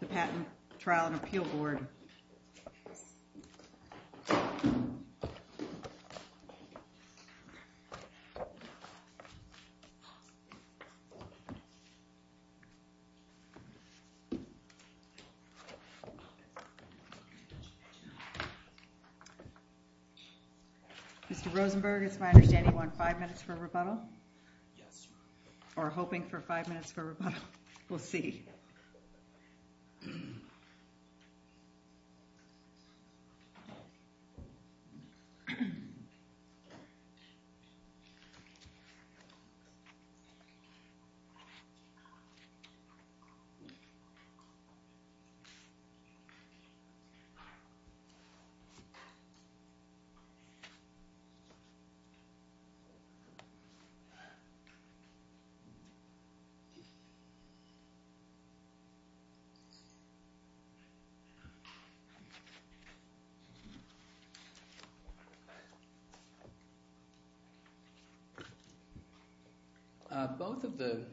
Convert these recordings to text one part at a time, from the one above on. The Patent Trial and Appeal Board Mr. Rosenberg, it's my understanding you want five minutes for rebuttal? Yes. Or hoping for five minutes for rebuttal? We'll see. Both of the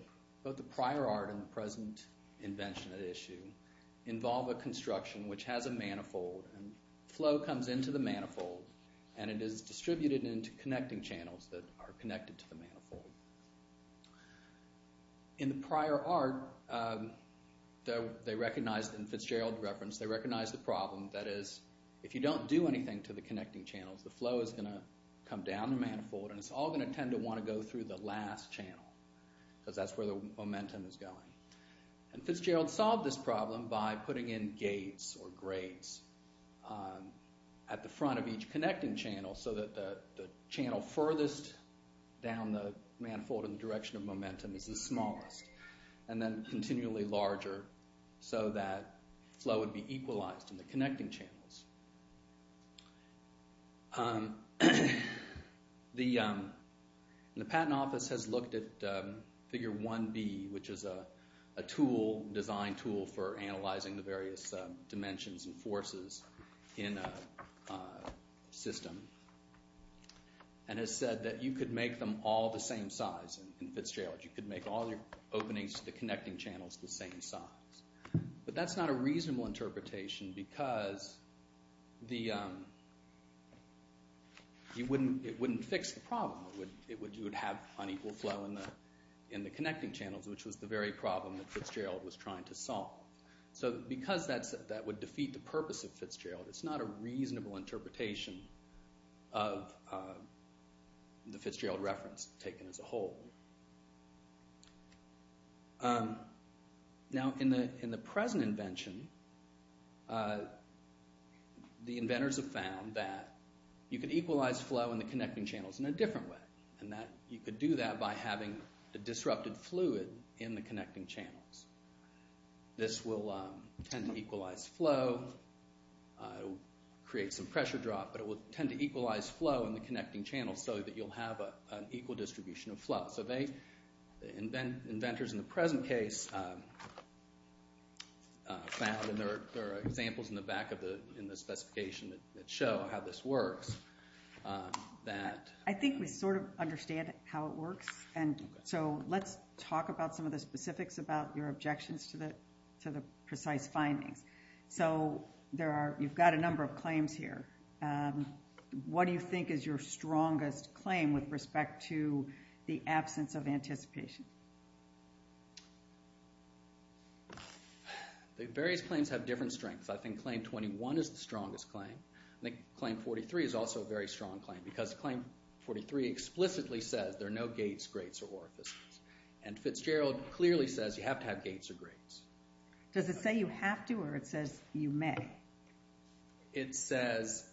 prior art and the present invention at issue involve a construction which has a manifold and flow comes into the manifold and it is distributed into connecting channels that are connected to the manifold. In the prior art, they recognized, in Fitzgerald's reference, they recognized the problem that is if you don't do anything to the connecting channels, the flow is going to come down the manifold and it's all going to tend to want to go through the last channel because that's where the momentum is going. Fitzgerald solved this problem by putting in gates or grates at the front of each connecting channel so that the channel furthest down the manifold in the direction of momentum is the smallest and then continually larger so that flow would be equalized in the connecting channels. The Patent Office has looked at Figure 1B, which is a tool, design tool, for analyzing the various dimensions and forces in a system and has said that you could make them all the same size in Fitzgerald. You could make all the openings to the connecting channels the same size. But that's not a reasonable interpretation because it wouldn't fix the problem. It would have unequal flow in the connecting channels, which was the very problem that Fitzgerald was trying to solve. So because that would defeat the purpose of Fitzgerald, it's not a reasonable interpretation of the Fitzgerald reference taken as a whole. Now in the present invention, the inventors have found that you could equalize flow in the connecting channels in a different way. You could do that by having a disrupted fluid in the connecting channels. This will tend to equalize flow, create some pressure drop, but it will tend to equalize flow in the connecting channels so that you'll have an equal distribution of flow. So inventors in the present case found, and there are examples in the back of the specification that show how this works, that... I think we sort of understand how it works, and so let's talk about some of the specifics about your objections to the precise findings. So you've got a number of claims here. What do you think is your strongest claim with respect to the absence of anticipation? The various claims have different strengths. I think claim 21 is the strongest claim. I think claim 43 is also a very strong claim because claim 43 explicitly says there are no gates, grates, or orifices. And Fitzgerald clearly says you have to have gates or grates. Does it say you have to or it says you may? It says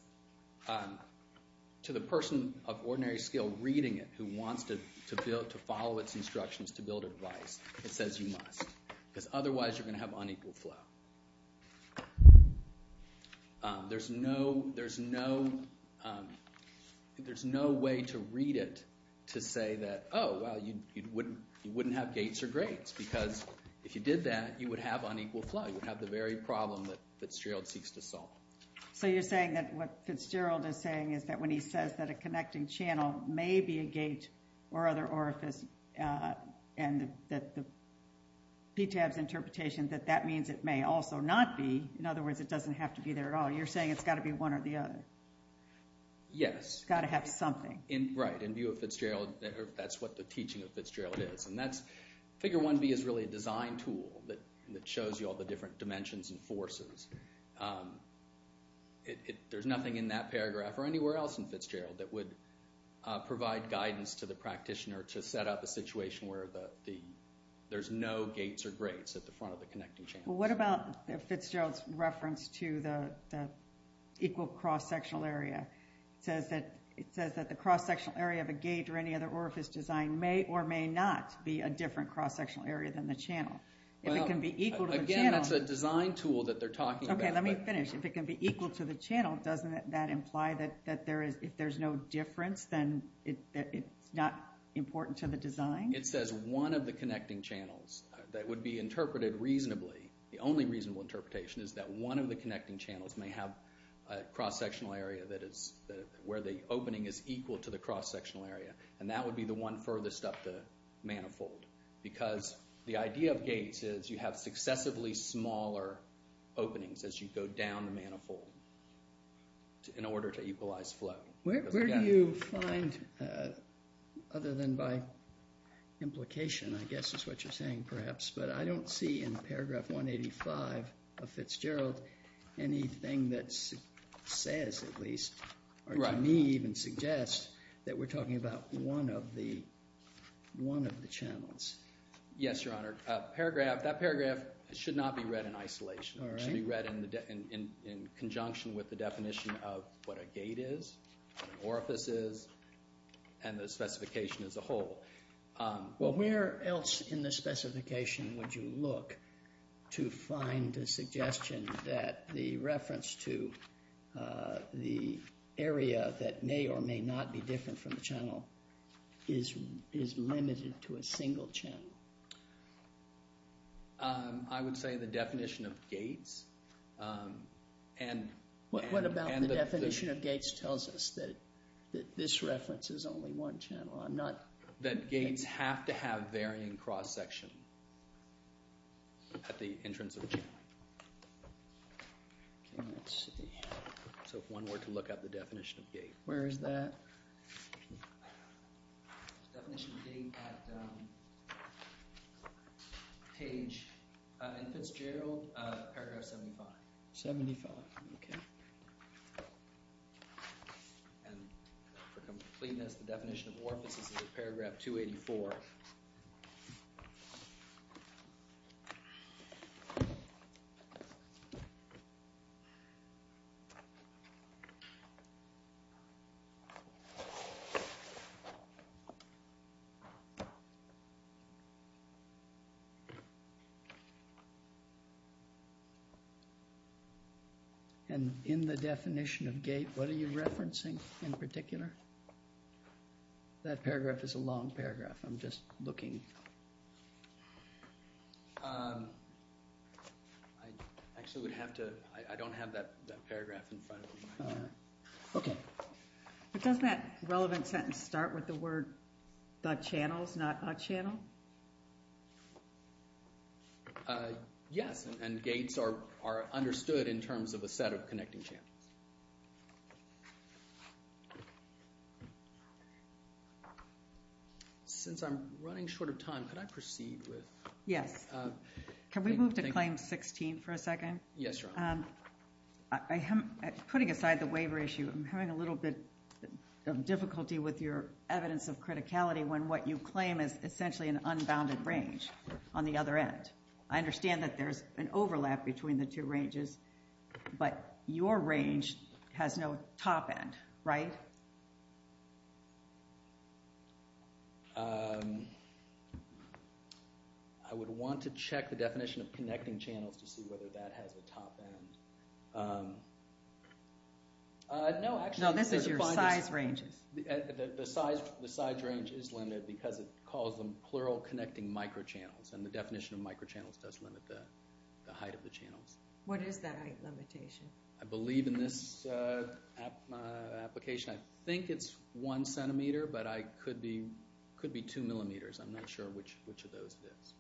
to the person of ordinary skill reading it who wants to follow its instructions to build a device, it says you must, because otherwise you're going to have unequal flow. There's no way to read it to say that, oh, well, you wouldn't have gates or grates, because if you did that, you would have unequal flow, you would have the very problem that Fitzgerald seeks to solve. So you're saying that what Fitzgerald is saying is that when he says that a connecting channel may be a gate or other orifice and that the PTAB's interpretation that that means it may also not be, in other words, it doesn't have to be there at all, you're saying it's got to be one or the other. Yes. It's got to have something. Right. In view of Fitzgerald, that's what the teaching of Fitzgerald is, and that's, figure 1B is really a design tool that shows you all the different dimensions and forces. There's nothing in that paragraph or anywhere else in Fitzgerald that would provide guidance to the practitioner to set up a situation where there's no gates or grates at the front of the connecting channel. Well, what about Fitzgerald's reference to the equal cross-sectional area? It says that the cross-sectional area of a gate or any other orifice design may or may not be a different cross-sectional area than the channel. If it can be equal to the channel. Again, that's a design tool that they're talking about. Okay, let me finish. If it can be equal to the channel, doesn't that imply that if there's no difference, then it's not important to the design? It says one of the connecting channels that would be interpreted reasonably, the only reasonable interpretation is that one of the connecting channels may have a cross-sectional area where the opening is equal to the cross-sectional area, and that would be the one furthest up the manifold. Because the idea of gates is you have successively smaller openings as you go down the manifold in order to equalize flow. Where do you find, other than by implication, I guess is what you're saying perhaps, but I don't see in paragraph 185 of Fitzgerald anything that says at least, or to me even suggests, that we're talking about one of the channels. Yes, Your Honor. That paragraph should not be read in isolation. It should be read in conjunction with the definition of what a gate is, what an orifice is, and the specification as a whole. Well, where else in the specification would you look to find a suggestion that the reference to the area that may or may not be different from the channel is limited to a single channel? I would say the definition of gates and... What about the definition of gates tells us that this reference is only one channel? That gates have to have varying cross-section at the entrance of the channel. So if one were to look up the definition of gate. Where is that? The definition of gate at page, in Fitzgerald, paragraph 75. 75, okay. And for completeness, the definition of orifice is in paragraph 284. And in the definition of gate, what are you referencing in particular? That paragraph is a long paragraph. I'm just looking. I actually would have to... I don't have that paragraph in front of me right now. Okay. But doesn't that relevant sentence start with the word the channels, not a channel? Yes, and gates are understood in terms of a set of connecting channels. Since I'm running short of time, could I proceed with... Yes. Can we move to claim 16 for a second? Yes, Your Honor. Putting aside the waiver issue, I'm having a little bit of difficulty with your evidence of criticality when what you claim is essentially an unbounded range on the other end. I understand that there's an overlap between the two ranges, but your range has no top end, right? I would want to check the definition of connecting channels to see whether that has a top end. No, actually... No, this is your size range. The size range is limited because it calls them plural connecting microchannels and the definition of microchannels does limit the height of the channels. What is that height limitation? I believe in this application I think it's one centimeter, but it could be two millimeters. I'm not sure which of those it is.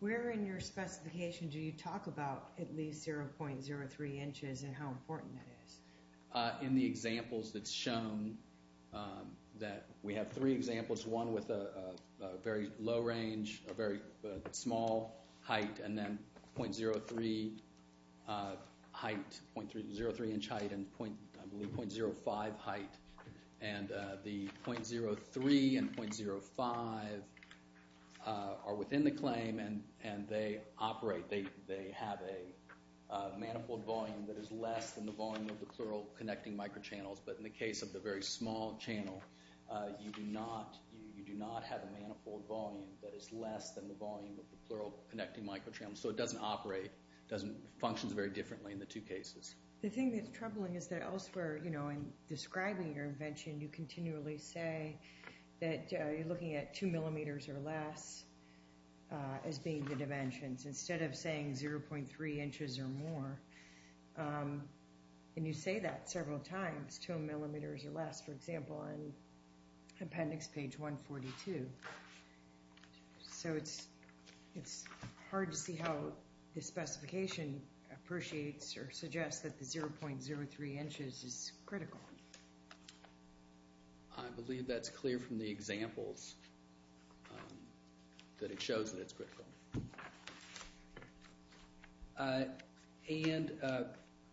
Where in your specification do you talk about at least 0.03 inches and how important that is? In the examples that's shown, we have three examples, one with a very low range, a very small height, and then 0.03 inch height and 0.05 height. The 0.03 and 0.05 are within the claim and they operate. They have a manifold volume that is less than the volume of the plural connecting microchannels, but in the case of the very small channel, you do not have a manifold volume that is less than the volume of the plural connecting microchannels, so it doesn't operate, functions very differently in the two cases. The thing that's troubling is that elsewhere in describing your invention, you continually say that you're looking at two millimeters or less as being the dimensions instead of saying 0.3 inches or more. And you say that several times, two millimeters or less, for example, in appendix page 142. So it's hard to see how the specification appreciates or suggests that the 0.03 inches is critical. I believe that's clear from the examples that it shows that it's critical. And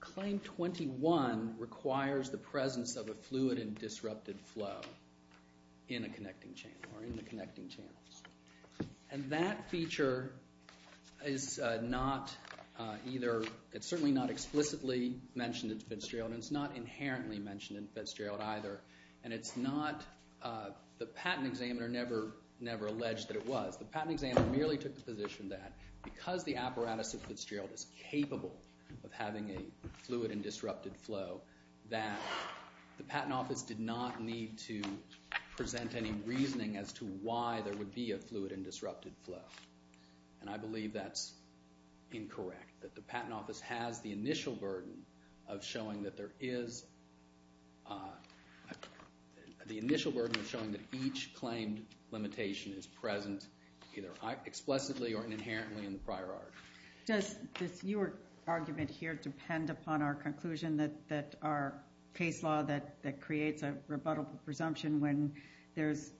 Claim 21 requires the presence of a fluid and disrupted flow in a connecting channel or in the connecting channels. And that feature is not either – it's certainly not explicitly mentioned in Fitzgerald and it's not inherently mentioned in Fitzgerald either, and it's not – the patent examiner never alleged that it was. The patent examiner merely took the position that because the apparatus at Fitzgerald is capable of having a fluid and disrupted flow, that the Patent Office did not need to present any reasoning as to why there would be a fluid and disrupted flow. And I believe that's incorrect, that the Patent Office has the initial burden of showing that there is – either explicitly or inherently in the prior art. Does your argument here depend upon our conclusion that our case law that creates a rebuttable presumption when there's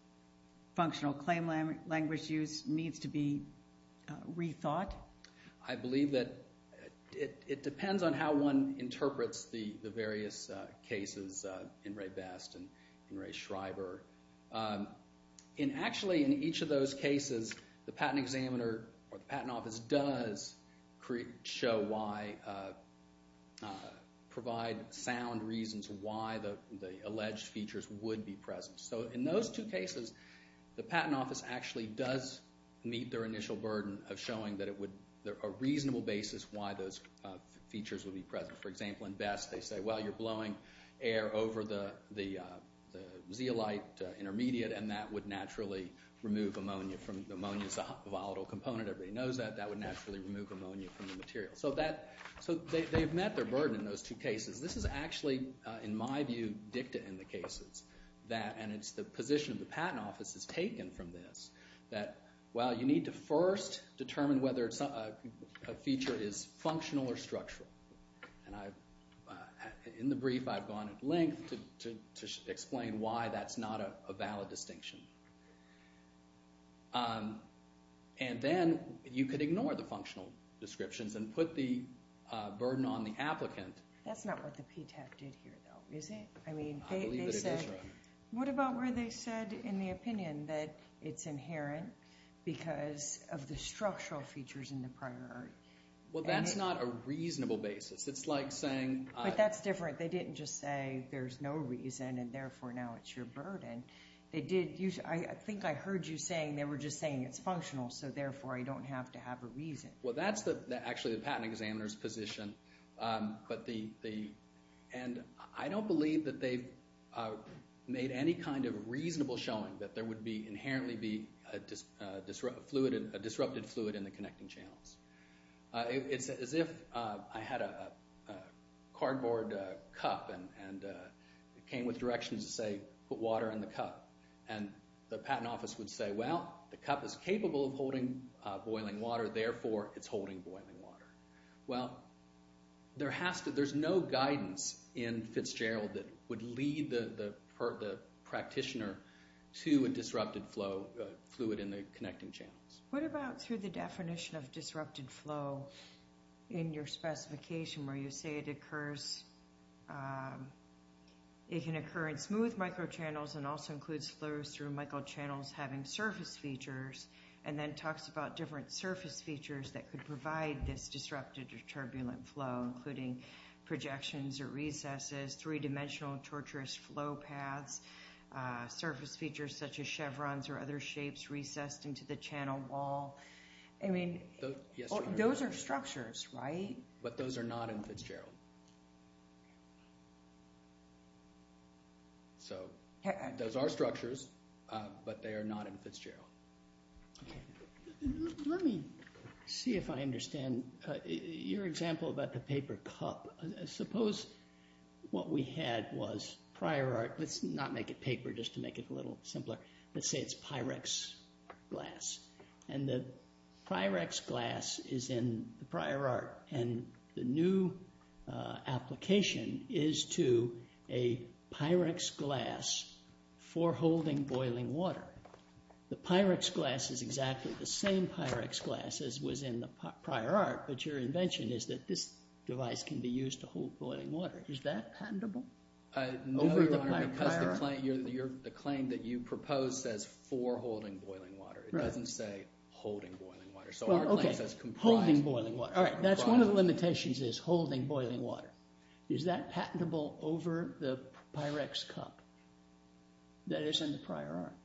functional claim language use needs to be rethought? I believe that it depends on how one interprets the various cases in Ray Best and Ray Schreiber. And actually, in each of those cases, the patent examiner or the Patent Office does show why – provide sound reasons why the alleged features would be present. So in those two cases, the Patent Office actually does meet their initial burden of showing that it would – a reasonable basis why those features would be present. For example, in Best, they say, well, you're blowing air over the zeolite intermediate and that would naturally remove ammonia from – ammonia is a volatile component. Everybody knows that. That would naturally remove ammonia from the material. So they've met their burden in those two cases. This is actually, in my view, dicta in the cases, and it's the position of the Patent Office that's taken from this, that, well, you need to first determine whether a feature is functional or structural. And in the brief, I've gone at length to explain why that's not a valid distinction. And then you could ignore the functional descriptions and put the burden on the applicant. That's not what the PTAC did here, though, is it? I believe that it is. What about where they said in the opinion that it's inherent because of the structural features in the priority? Well, that's not a reasonable basis. It's like saying – But that's different. They didn't just say there's no reason and therefore now it's your burden. They did – I think I heard you saying they were just saying it's functional, so therefore I don't have to have a reason. Well, that's actually the patent examiner's position. And I don't believe that they've made any kind of reasonable showing that there would inherently be a disrupted fluid in the connecting channels. It's as if I had a cardboard cup and it came with directions to say put water in the cup, and the Patent Office would say, well, the cup is capable of holding boiling water, therefore it's holding boiling water. Well, there's no guidance in Fitzgerald that would lead the practitioner to a disrupted fluid in the connecting channels. What about through the definition of disrupted flow in your specification where you say it occurs – it can occur in smooth microchannels and also includes flows through microchannels having surface features and then talks about different surface features that could provide this disrupted or turbulent flow, including projections or recesses, three-dimensional tortuous flow paths, surface features such as chevrons or other shapes recessed into the channel wall. I mean, those are structures, right? But those are not in Fitzgerald. So those are structures, but they are not in Fitzgerald. Okay. Let me see if I understand your example about the paper cup. Suppose what we had was prior art. Let's not make it paper just to make it a little simpler. Let's say it's Pyrex glass, and the Pyrex glass is in the prior art, and the new application is to a Pyrex glass for holding boiling water. The Pyrex glass is exactly the same Pyrex glass as was in the prior art, but your invention is that this device can be used to hold boiling water. Is that patentable over the prior art? No, Your Honor, because the claim that you proposed says for holding boiling water. It doesn't say holding boiling water. Okay, holding boiling water. All right, that's one of the limitations is holding boiling water. Is that patentable over the Pyrex cup that is in the prior art?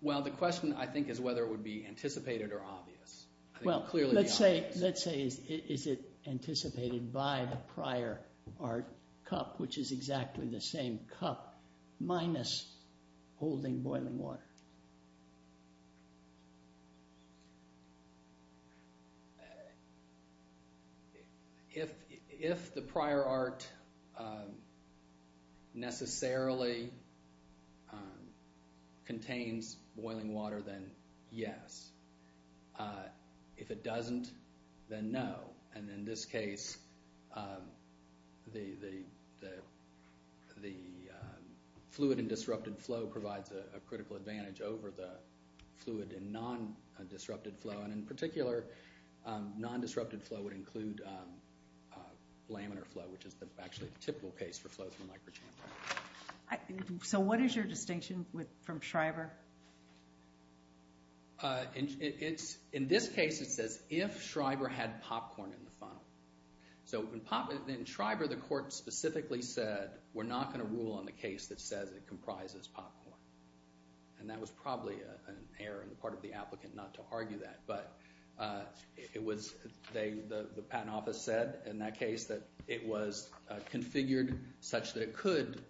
Well, the question, I think, is whether it would be anticipated or obvious. Well, let's say is it anticipated by the prior art cup, which is exactly the same cup, minus holding boiling water. If the prior art necessarily contains boiling water, then yes. If it doesn't, then no, and in this case, the fluid and disrupted flow provides a critical advantage over the fluid and non-disrupted flow, and in particular, non-disrupted flow would include laminar flow, which is actually a typical case for flow through a microchamber. So what is your distinction from Shriver? In this case, it says if Shriver had popcorn in the funnel. So in Shriver, the court specifically said, we're not going to rule on the case that says it comprises popcorn, and that was probably an error on the part of the applicant not to argue that, but the patent office said in that case that it was configured such that it could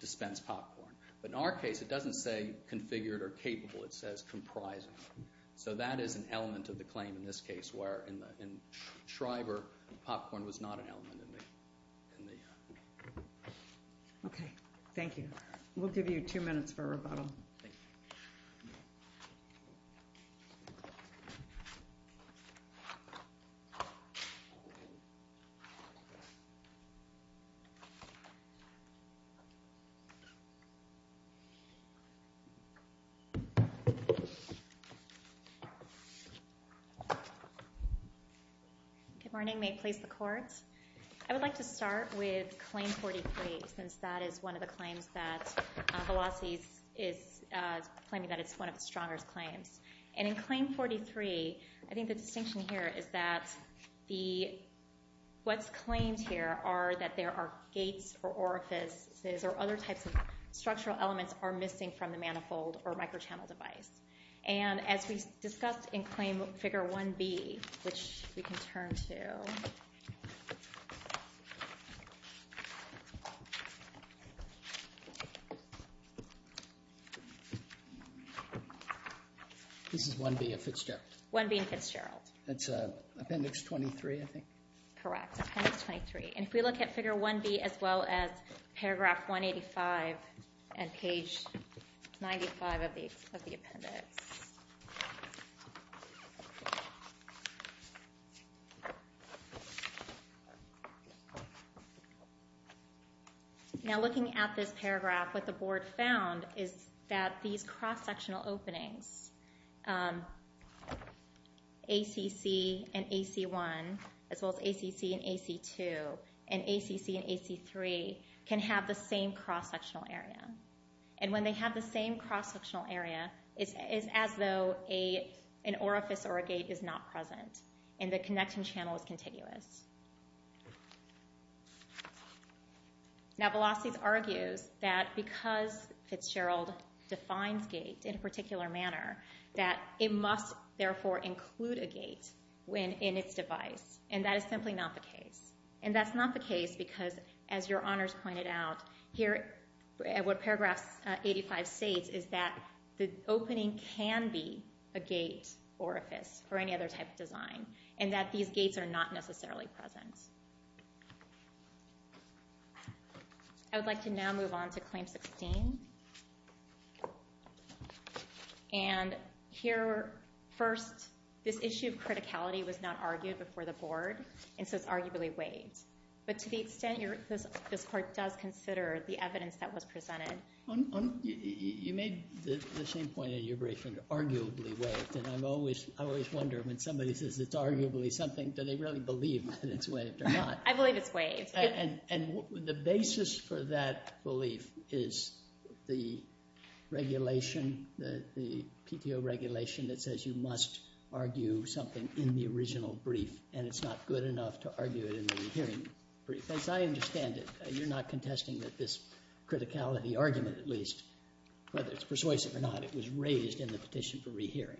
dispense popcorn. But in our case, it doesn't say configured or capable. It says comprising. So that is an element of the claim in this case, where in Shriver, popcorn was not an element. Okay, thank you. We'll give you two minutes for rebuttal. Good morning. I would like to start with Claim 43, since that is one of the claims that Velazquez is claiming that it's one of the strongest claims. And in Claim 43, I think the distinction here is that what's claimed here are that there are gates or orifices or other types of structural elements are missing from the manifold or microchannel device. And as we discussed in Claim Figure 1B, which we can turn to. This is 1B at Fitzgerald. 1B at Fitzgerald. That's Appendix 23, I think. Correct, Appendix 23. And if we look at Figure 1B as well as Paragraph 185 and Page 95 of the appendix. Now looking at this paragraph, what the Board found is that these cross-sectional openings, ACC and AC1, as well as ACC and AC2, and ACC and AC3, can have the same cross-sectional area. And when they have the same cross-sectional area, it's as though an orifice or a gate is not present and the connecting channel is contiguous. Now Velazquez argues that because Fitzgerald defines gate in a particular manner, that it must therefore include a gate in its device. And that is simply not the case. And that's not the case because, as your Honors pointed out, here what Paragraph 85 states is that the opening can be a gate orifice or any other type of design, and that these gates are not necessarily present. I would like to now move on to Claim 16. And here, first, this issue of criticality was not argued before the Board, and so it's arguably waived. But to the extent this Court does consider the evidence that was presented. You made the same point in your briefing, arguably waived. And I always wonder when somebody says it's arguably something, do they really believe that it's waived or not? I believe it's waived. And the basis for that belief is the regulation, the PTO regulation that says you must argue something in the original brief, and it's not good enough to argue it in the rehearing brief. As I understand it, you're not contesting that this criticality argument, at least, whether it's persuasive or not, it was raised in the Petition for Rehearing.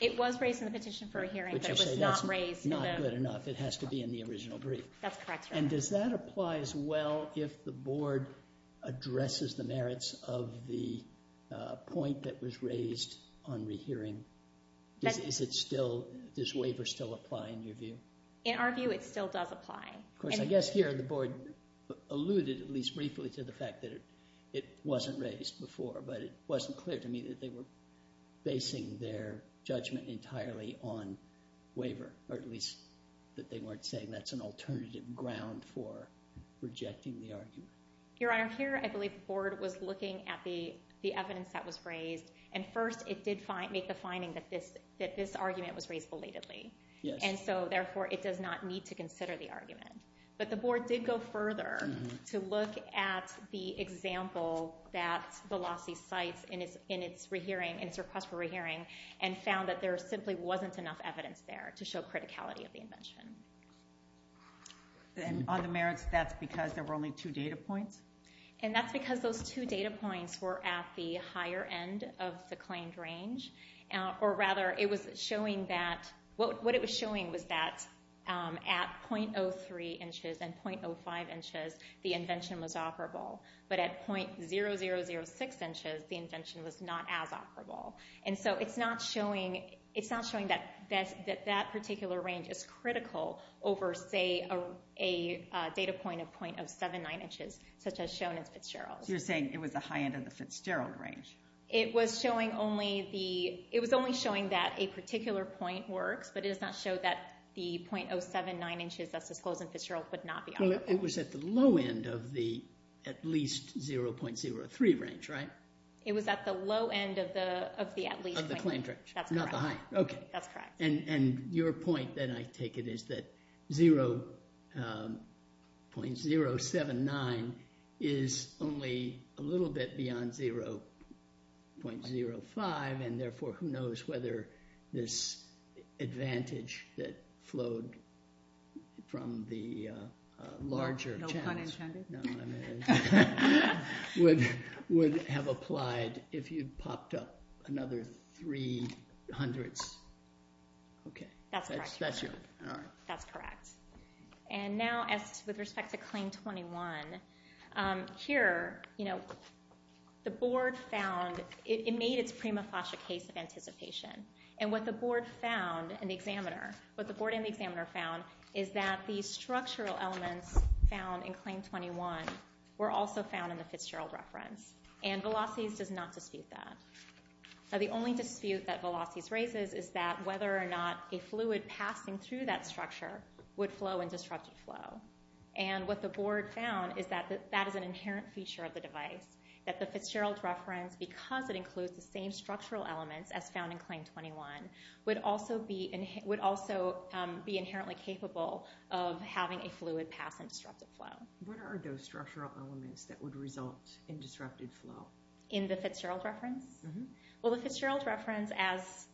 It was raised in the Petition for Rehearing, but it was not raised in the... But you say that's not good enough. It has to be in the original brief. That's correct, Your Honor. And does that apply as well if the Board addresses the merits of the point that was raised on rehearing? Does waiver still apply in your view? In our view, it still does apply. Of course, I guess here the Board alluded, at least briefly, to the fact that it wasn't raised before, but it wasn't clear to me that they were basing their judgment entirely on waiver, or at least that they weren't saying that's an alternative ground for rejecting the argument. Your Honor, here I believe the Board was looking at the evidence that was raised, and first it did make the finding that this argument was raised belatedly. Yes. And so, therefore, it does not need to consider the argument. But the Board did go further to look at the example that the lawsuit cites in its request for rehearing and found that there simply wasn't enough evidence there to show criticality of the invention. And on the merits, that's because there were only two data points? And that's because those two data points were at the higher end of the claimed range. Or rather, what it was showing was that at .03 inches and .05 inches, the invention was operable. But at .0006 inches, the invention was not as operable. And so it's not showing that that particular range is critical over, say, a data point of .079 inches. Such as shown in Fitzgerald. So you're saying it was the high end of the Fitzgerald range. It was only showing that a particular point works, but it does not show that the .079 inches that's disclosed in Fitzgerald would not be operable. Well, it was at the low end of the at least 0.03 range, right? It was at the low end of the at least range. Of the claimed range. That's correct. Not the high. Okay. That's correct. And your point that I take it is that 0.079 is only a little bit beyond 0.05. And therefore, who knows whether this advantage that flowed from the larger No pun intended. No pun intended. Would have applied if you'd popped up another 0.03. Okay. That's correct. That's correct. And now with respect to Claim 21, here, you know, the board found, it made its prima facie case of anticipation. And what the board found, and the examiner, what the board and the examiner found is that the structural elements found in Claim 21 were also found in the Fitzgerald reference. And Velocis does not dispute that. The only dispute that Velocis raises is that whether or not a fluid passing through that structure would flow in disrupted flow. And what the board found is that that is an inherent feature of the device. That the Fitzgerald reference, because it includes the same structural elements as found in Claim 21, would also be inherently capable of having a fluid pass in disrupted flow. What are those structural elements that would result in disrupted flow? In the Fitzgerald reference? Well, the Fitzgerald reference, as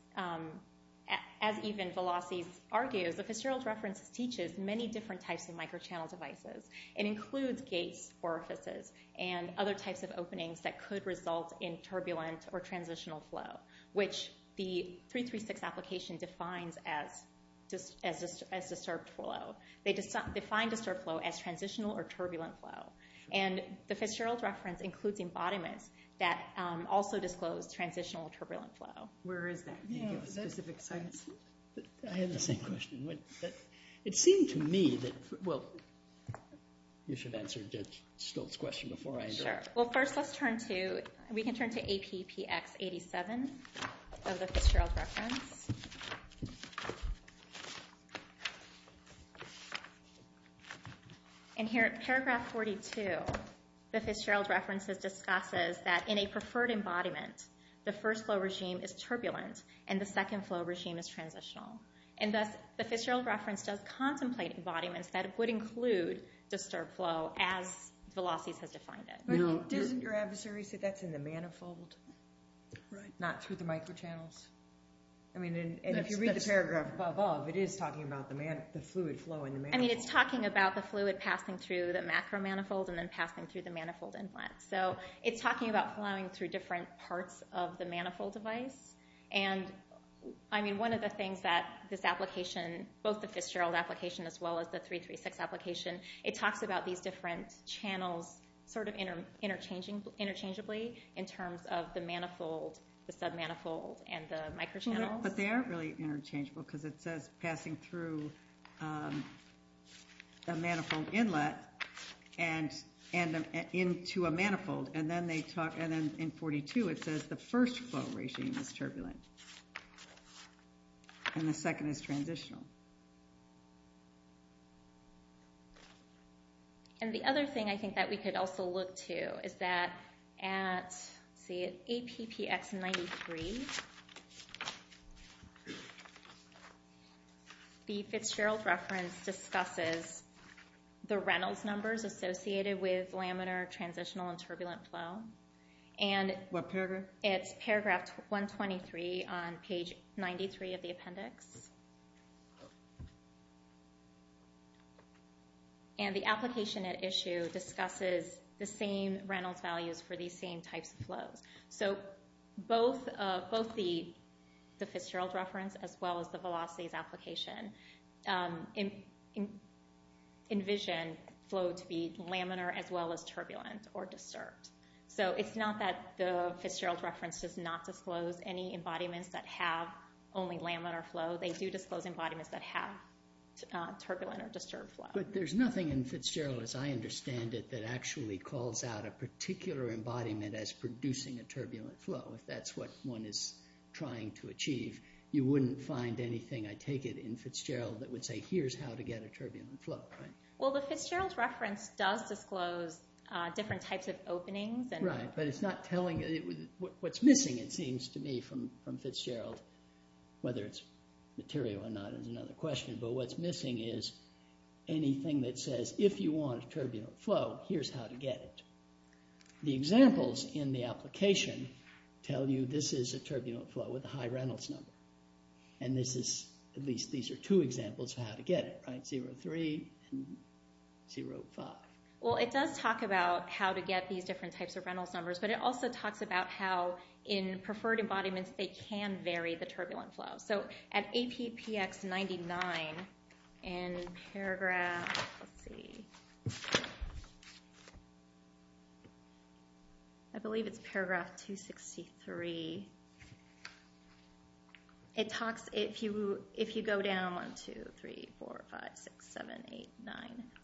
even Velocis argues, the Fitzgerald reference teaches many different types of microchannel devices. It includes gates, orifices, and other types of openings that could result in turbulent or transitional flow, which the 336 application defines as disturbed flow. They define disturbed flow as transitional or turbulent flow. And the Fitzgerald reference includes embodiments that also disclose transitional or turbulent flow. Where is that? I have the same question. It seemed to me that, well, you should answer Stiltz's question before I answer it. Sure. Well, first let's turn to, we can turn to APPX 87 of the Fitzgerald reference. And here at paragraph 42, the Fitzgerald reference discusses that in a preferred embodiment, the first flow regime is turbulent and the second flow regime is transitional. And thus, the Fitzgerald reference does contemplate embodiments that would include disturbed flow as Velocis has defined it. But doesn't your adversary say that's in the manifold? Right. Not through the microchannels? I mean, and if you read the paragraph above, it is talking about the fluid flow in the manifold. I mean, it's talking about the fluid passing through the macro manifold and then passing through the manifold implant. So it's talking about flowing through different parts of the manifold device. And, I mean, one of the things that this application, both the Fitzgerald application as well as the 336 application, it talks about these different channels sort of interchangeably in terms of the manifold, the sub-manifold, and the microchannels. But they aren't really interchangeable because it says passing through a manifold inlet and into a manifold. And then they talk, and then in 42 it says the first flow regime is turbulent and the second is transitional. And the other thing I think that we could also look to is that at APPX93, the Fitzgerald reference discusses the Reynolds numbers associated with laminar transitional and turbulent flow. What paragraph? It's paragraph 123 on page 93 of the appendix. And the application at issue discusses the same Reynolds values for these same types of flows. So both the Fitzgerald reference as well as the Velocities application envision flow to be laminar as well as turbulent or disturbed. So it's not that the Fitzgerald reference does not disclose any embodiments that have only laminar flow. They do disclose embodiments that have turbulent or disturbed flow. But there's nothing in Fitzgerald, as I understand it, that actually calls out a particular embodiment as producing a turbulent flow, if that's what one is trying to achieve. You wouldn't find anything, I take it, in Fitzgerald that would say here's how to get a turbulent flow, right? Well, the Fitzgerald reference does disclose different types of openings. Right, but it's not telling what's missing, it seems to me, from Fitzgerald, whether it's material or not is another question. But what's missing is anything that says if you want a turbulent flow, here's how to get it. The examples in the application tell you this is a turbulent flow with a high Reynolds number. And this is, at least these are two examples of how to get it, right? 0.03 and 0.05. Well, it does talk about how to get these different types of Reynolds numbers, but it also talks about how in preferred embodiments they can vary the turbulent flow. So at APPX 99, in paragraph, let's see, I believe it's paragraph 263, it talks if you go down 1, 2, 3, 4, 5, 6, 7, 8, 9,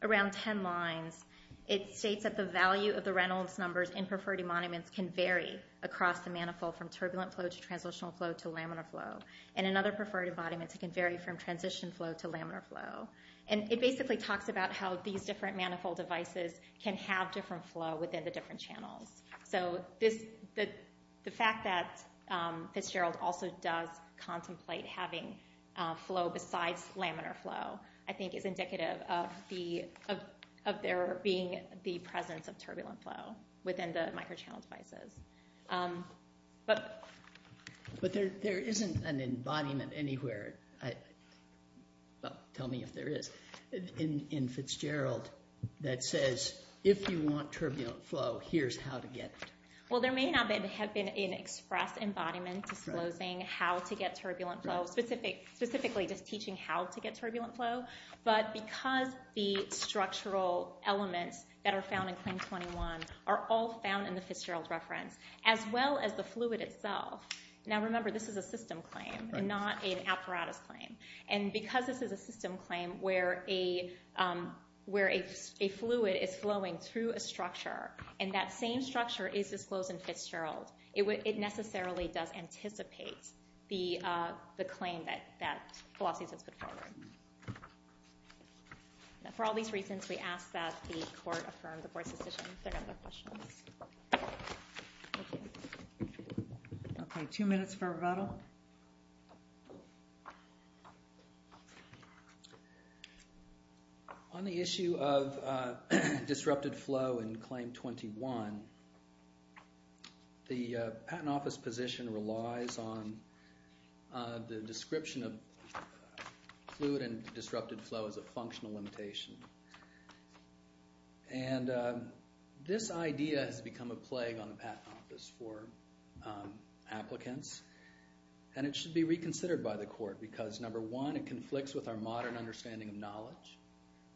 around 10 lines, it states that the value of the Reynolds numbers in preferred embodiments can vary across the manifold from turbulent flow to translational flow to laminar flow. And in other preferred embodiments it can vary from transition flow to laminar flow. And it basically talks about how these different manifold devices can have different flow within the different channels. So the fact that Fitzgerald also does contemplate having flow besides laminar flow, I think is indicative of there being the presence of turbulent flow within the microchannel devices. But there isn't an embodiment anywhere, well, tell me if there is, in Fitzgerald that says if you want turbulent flow, here's how to get it. Well, there may not have been an express embodiment disclosing how to get turbulent flow, specifically just teaching how to get turbulent flow, but because the structural elements that are found in Claim 21 are all found in the Fitzgerald reference, as well as the fluid itself, now remember this is a system claim and not an apparatus claim, and because this is a system claim where a fluid is flowing through a structure and that same structure is disclosed in Fitzgerald, it necessarily does anticipate the claim that philosophy has put forward. For all these reasons, we ask that the court affirm the court's decision. Okay, two minutes for rebuttal. On the issue of disrupted flow in Claim 21, the Patent Office position relies on the description of fluid and disrupted flow as a functional limitation. And this idea has become a plague on the Patent Office for applicants, and it should be reconsidered by the court because number one, it conflicts with our modern understanding of knowledge.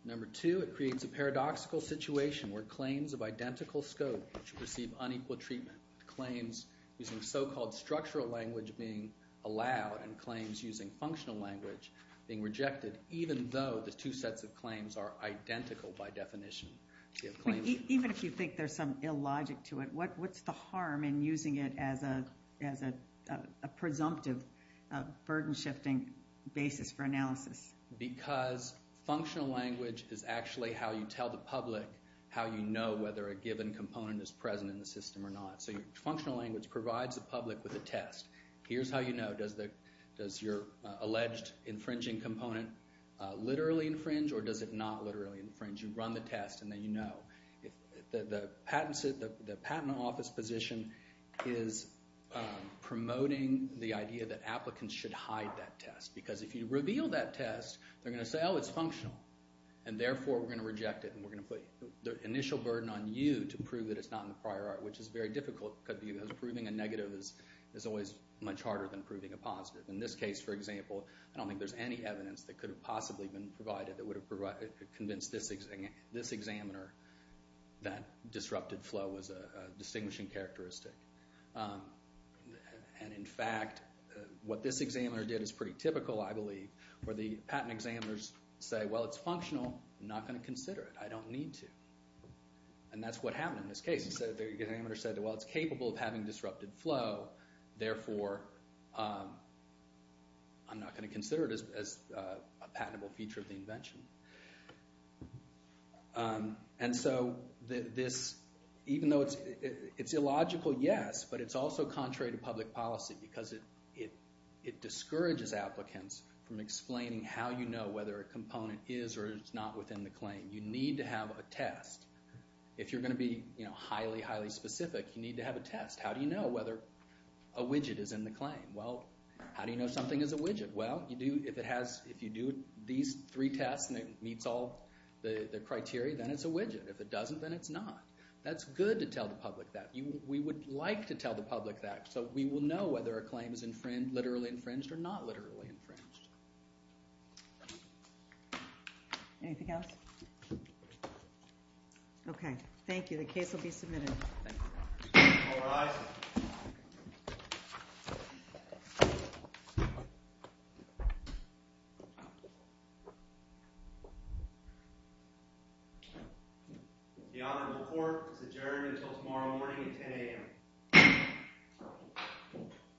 Number two, it creates a paradoxical situation where claims of identical scope should receive unequal treatment. Claims using so-called structural language being allowed and claims using functional language being rejected, even though the two sets of claims are identical by definition. Even if you think there's some illogic to it, what's the harm in using it as a presumptive burden-shifting basis for analysis? Because functional language is actually how you tell the public how you know whether a given component is present in the system or not. So functional language provides the public with a test. Here's how you know. Does your alleged infringing component literally infringe or does it not literally infringe? You run the test, and then you know. The Patent Office position is promoting the idea that applicants should hide that test, because if you reveal that test, they're going to say, oh, it's functional, and therefore we're going to reject it and we're going to put the initial burden on you to prove that it's not in the prior art, which is very difficult because proving a negative is always much harder than proving a positive. In this case, for example, I don't think there's any evidence that could have possibly been provided that would have convinced this examiner that disrupted flow was a distinguishing characteristic. In fact, what this examiner did is pretty typical, I believe, where the patent examiners say, well, it's functional. I'm not going to consider it. I don't need to. That's what happened in this case. The examiner said, well, it's capable of having disrupted flow, therefore I'm not going to consider it as a patentable feature of the invention. And so even though it's illogical, yes, but it's also contrary to public policy because it discourages applicants from explaining how you know whether a component is or is not within the claim. You need to have a test. If you're going to be highly, highly specific, you need to have a test. How do you know whether a widget is in the claim? Well, how do you know something is a widget? Well, if you do these three tests and it meets all the criteria, then it's a widget. If it doesn't, then it's not. That's good to tell the public that. We would like to tell the public that so we will know whether a claim is literally infringed or not literally infringed. Anything else? Okay. Thank you. The case will be submitted. All rise. The honorable court is adjourned until tomorrow morning at 10 a.m.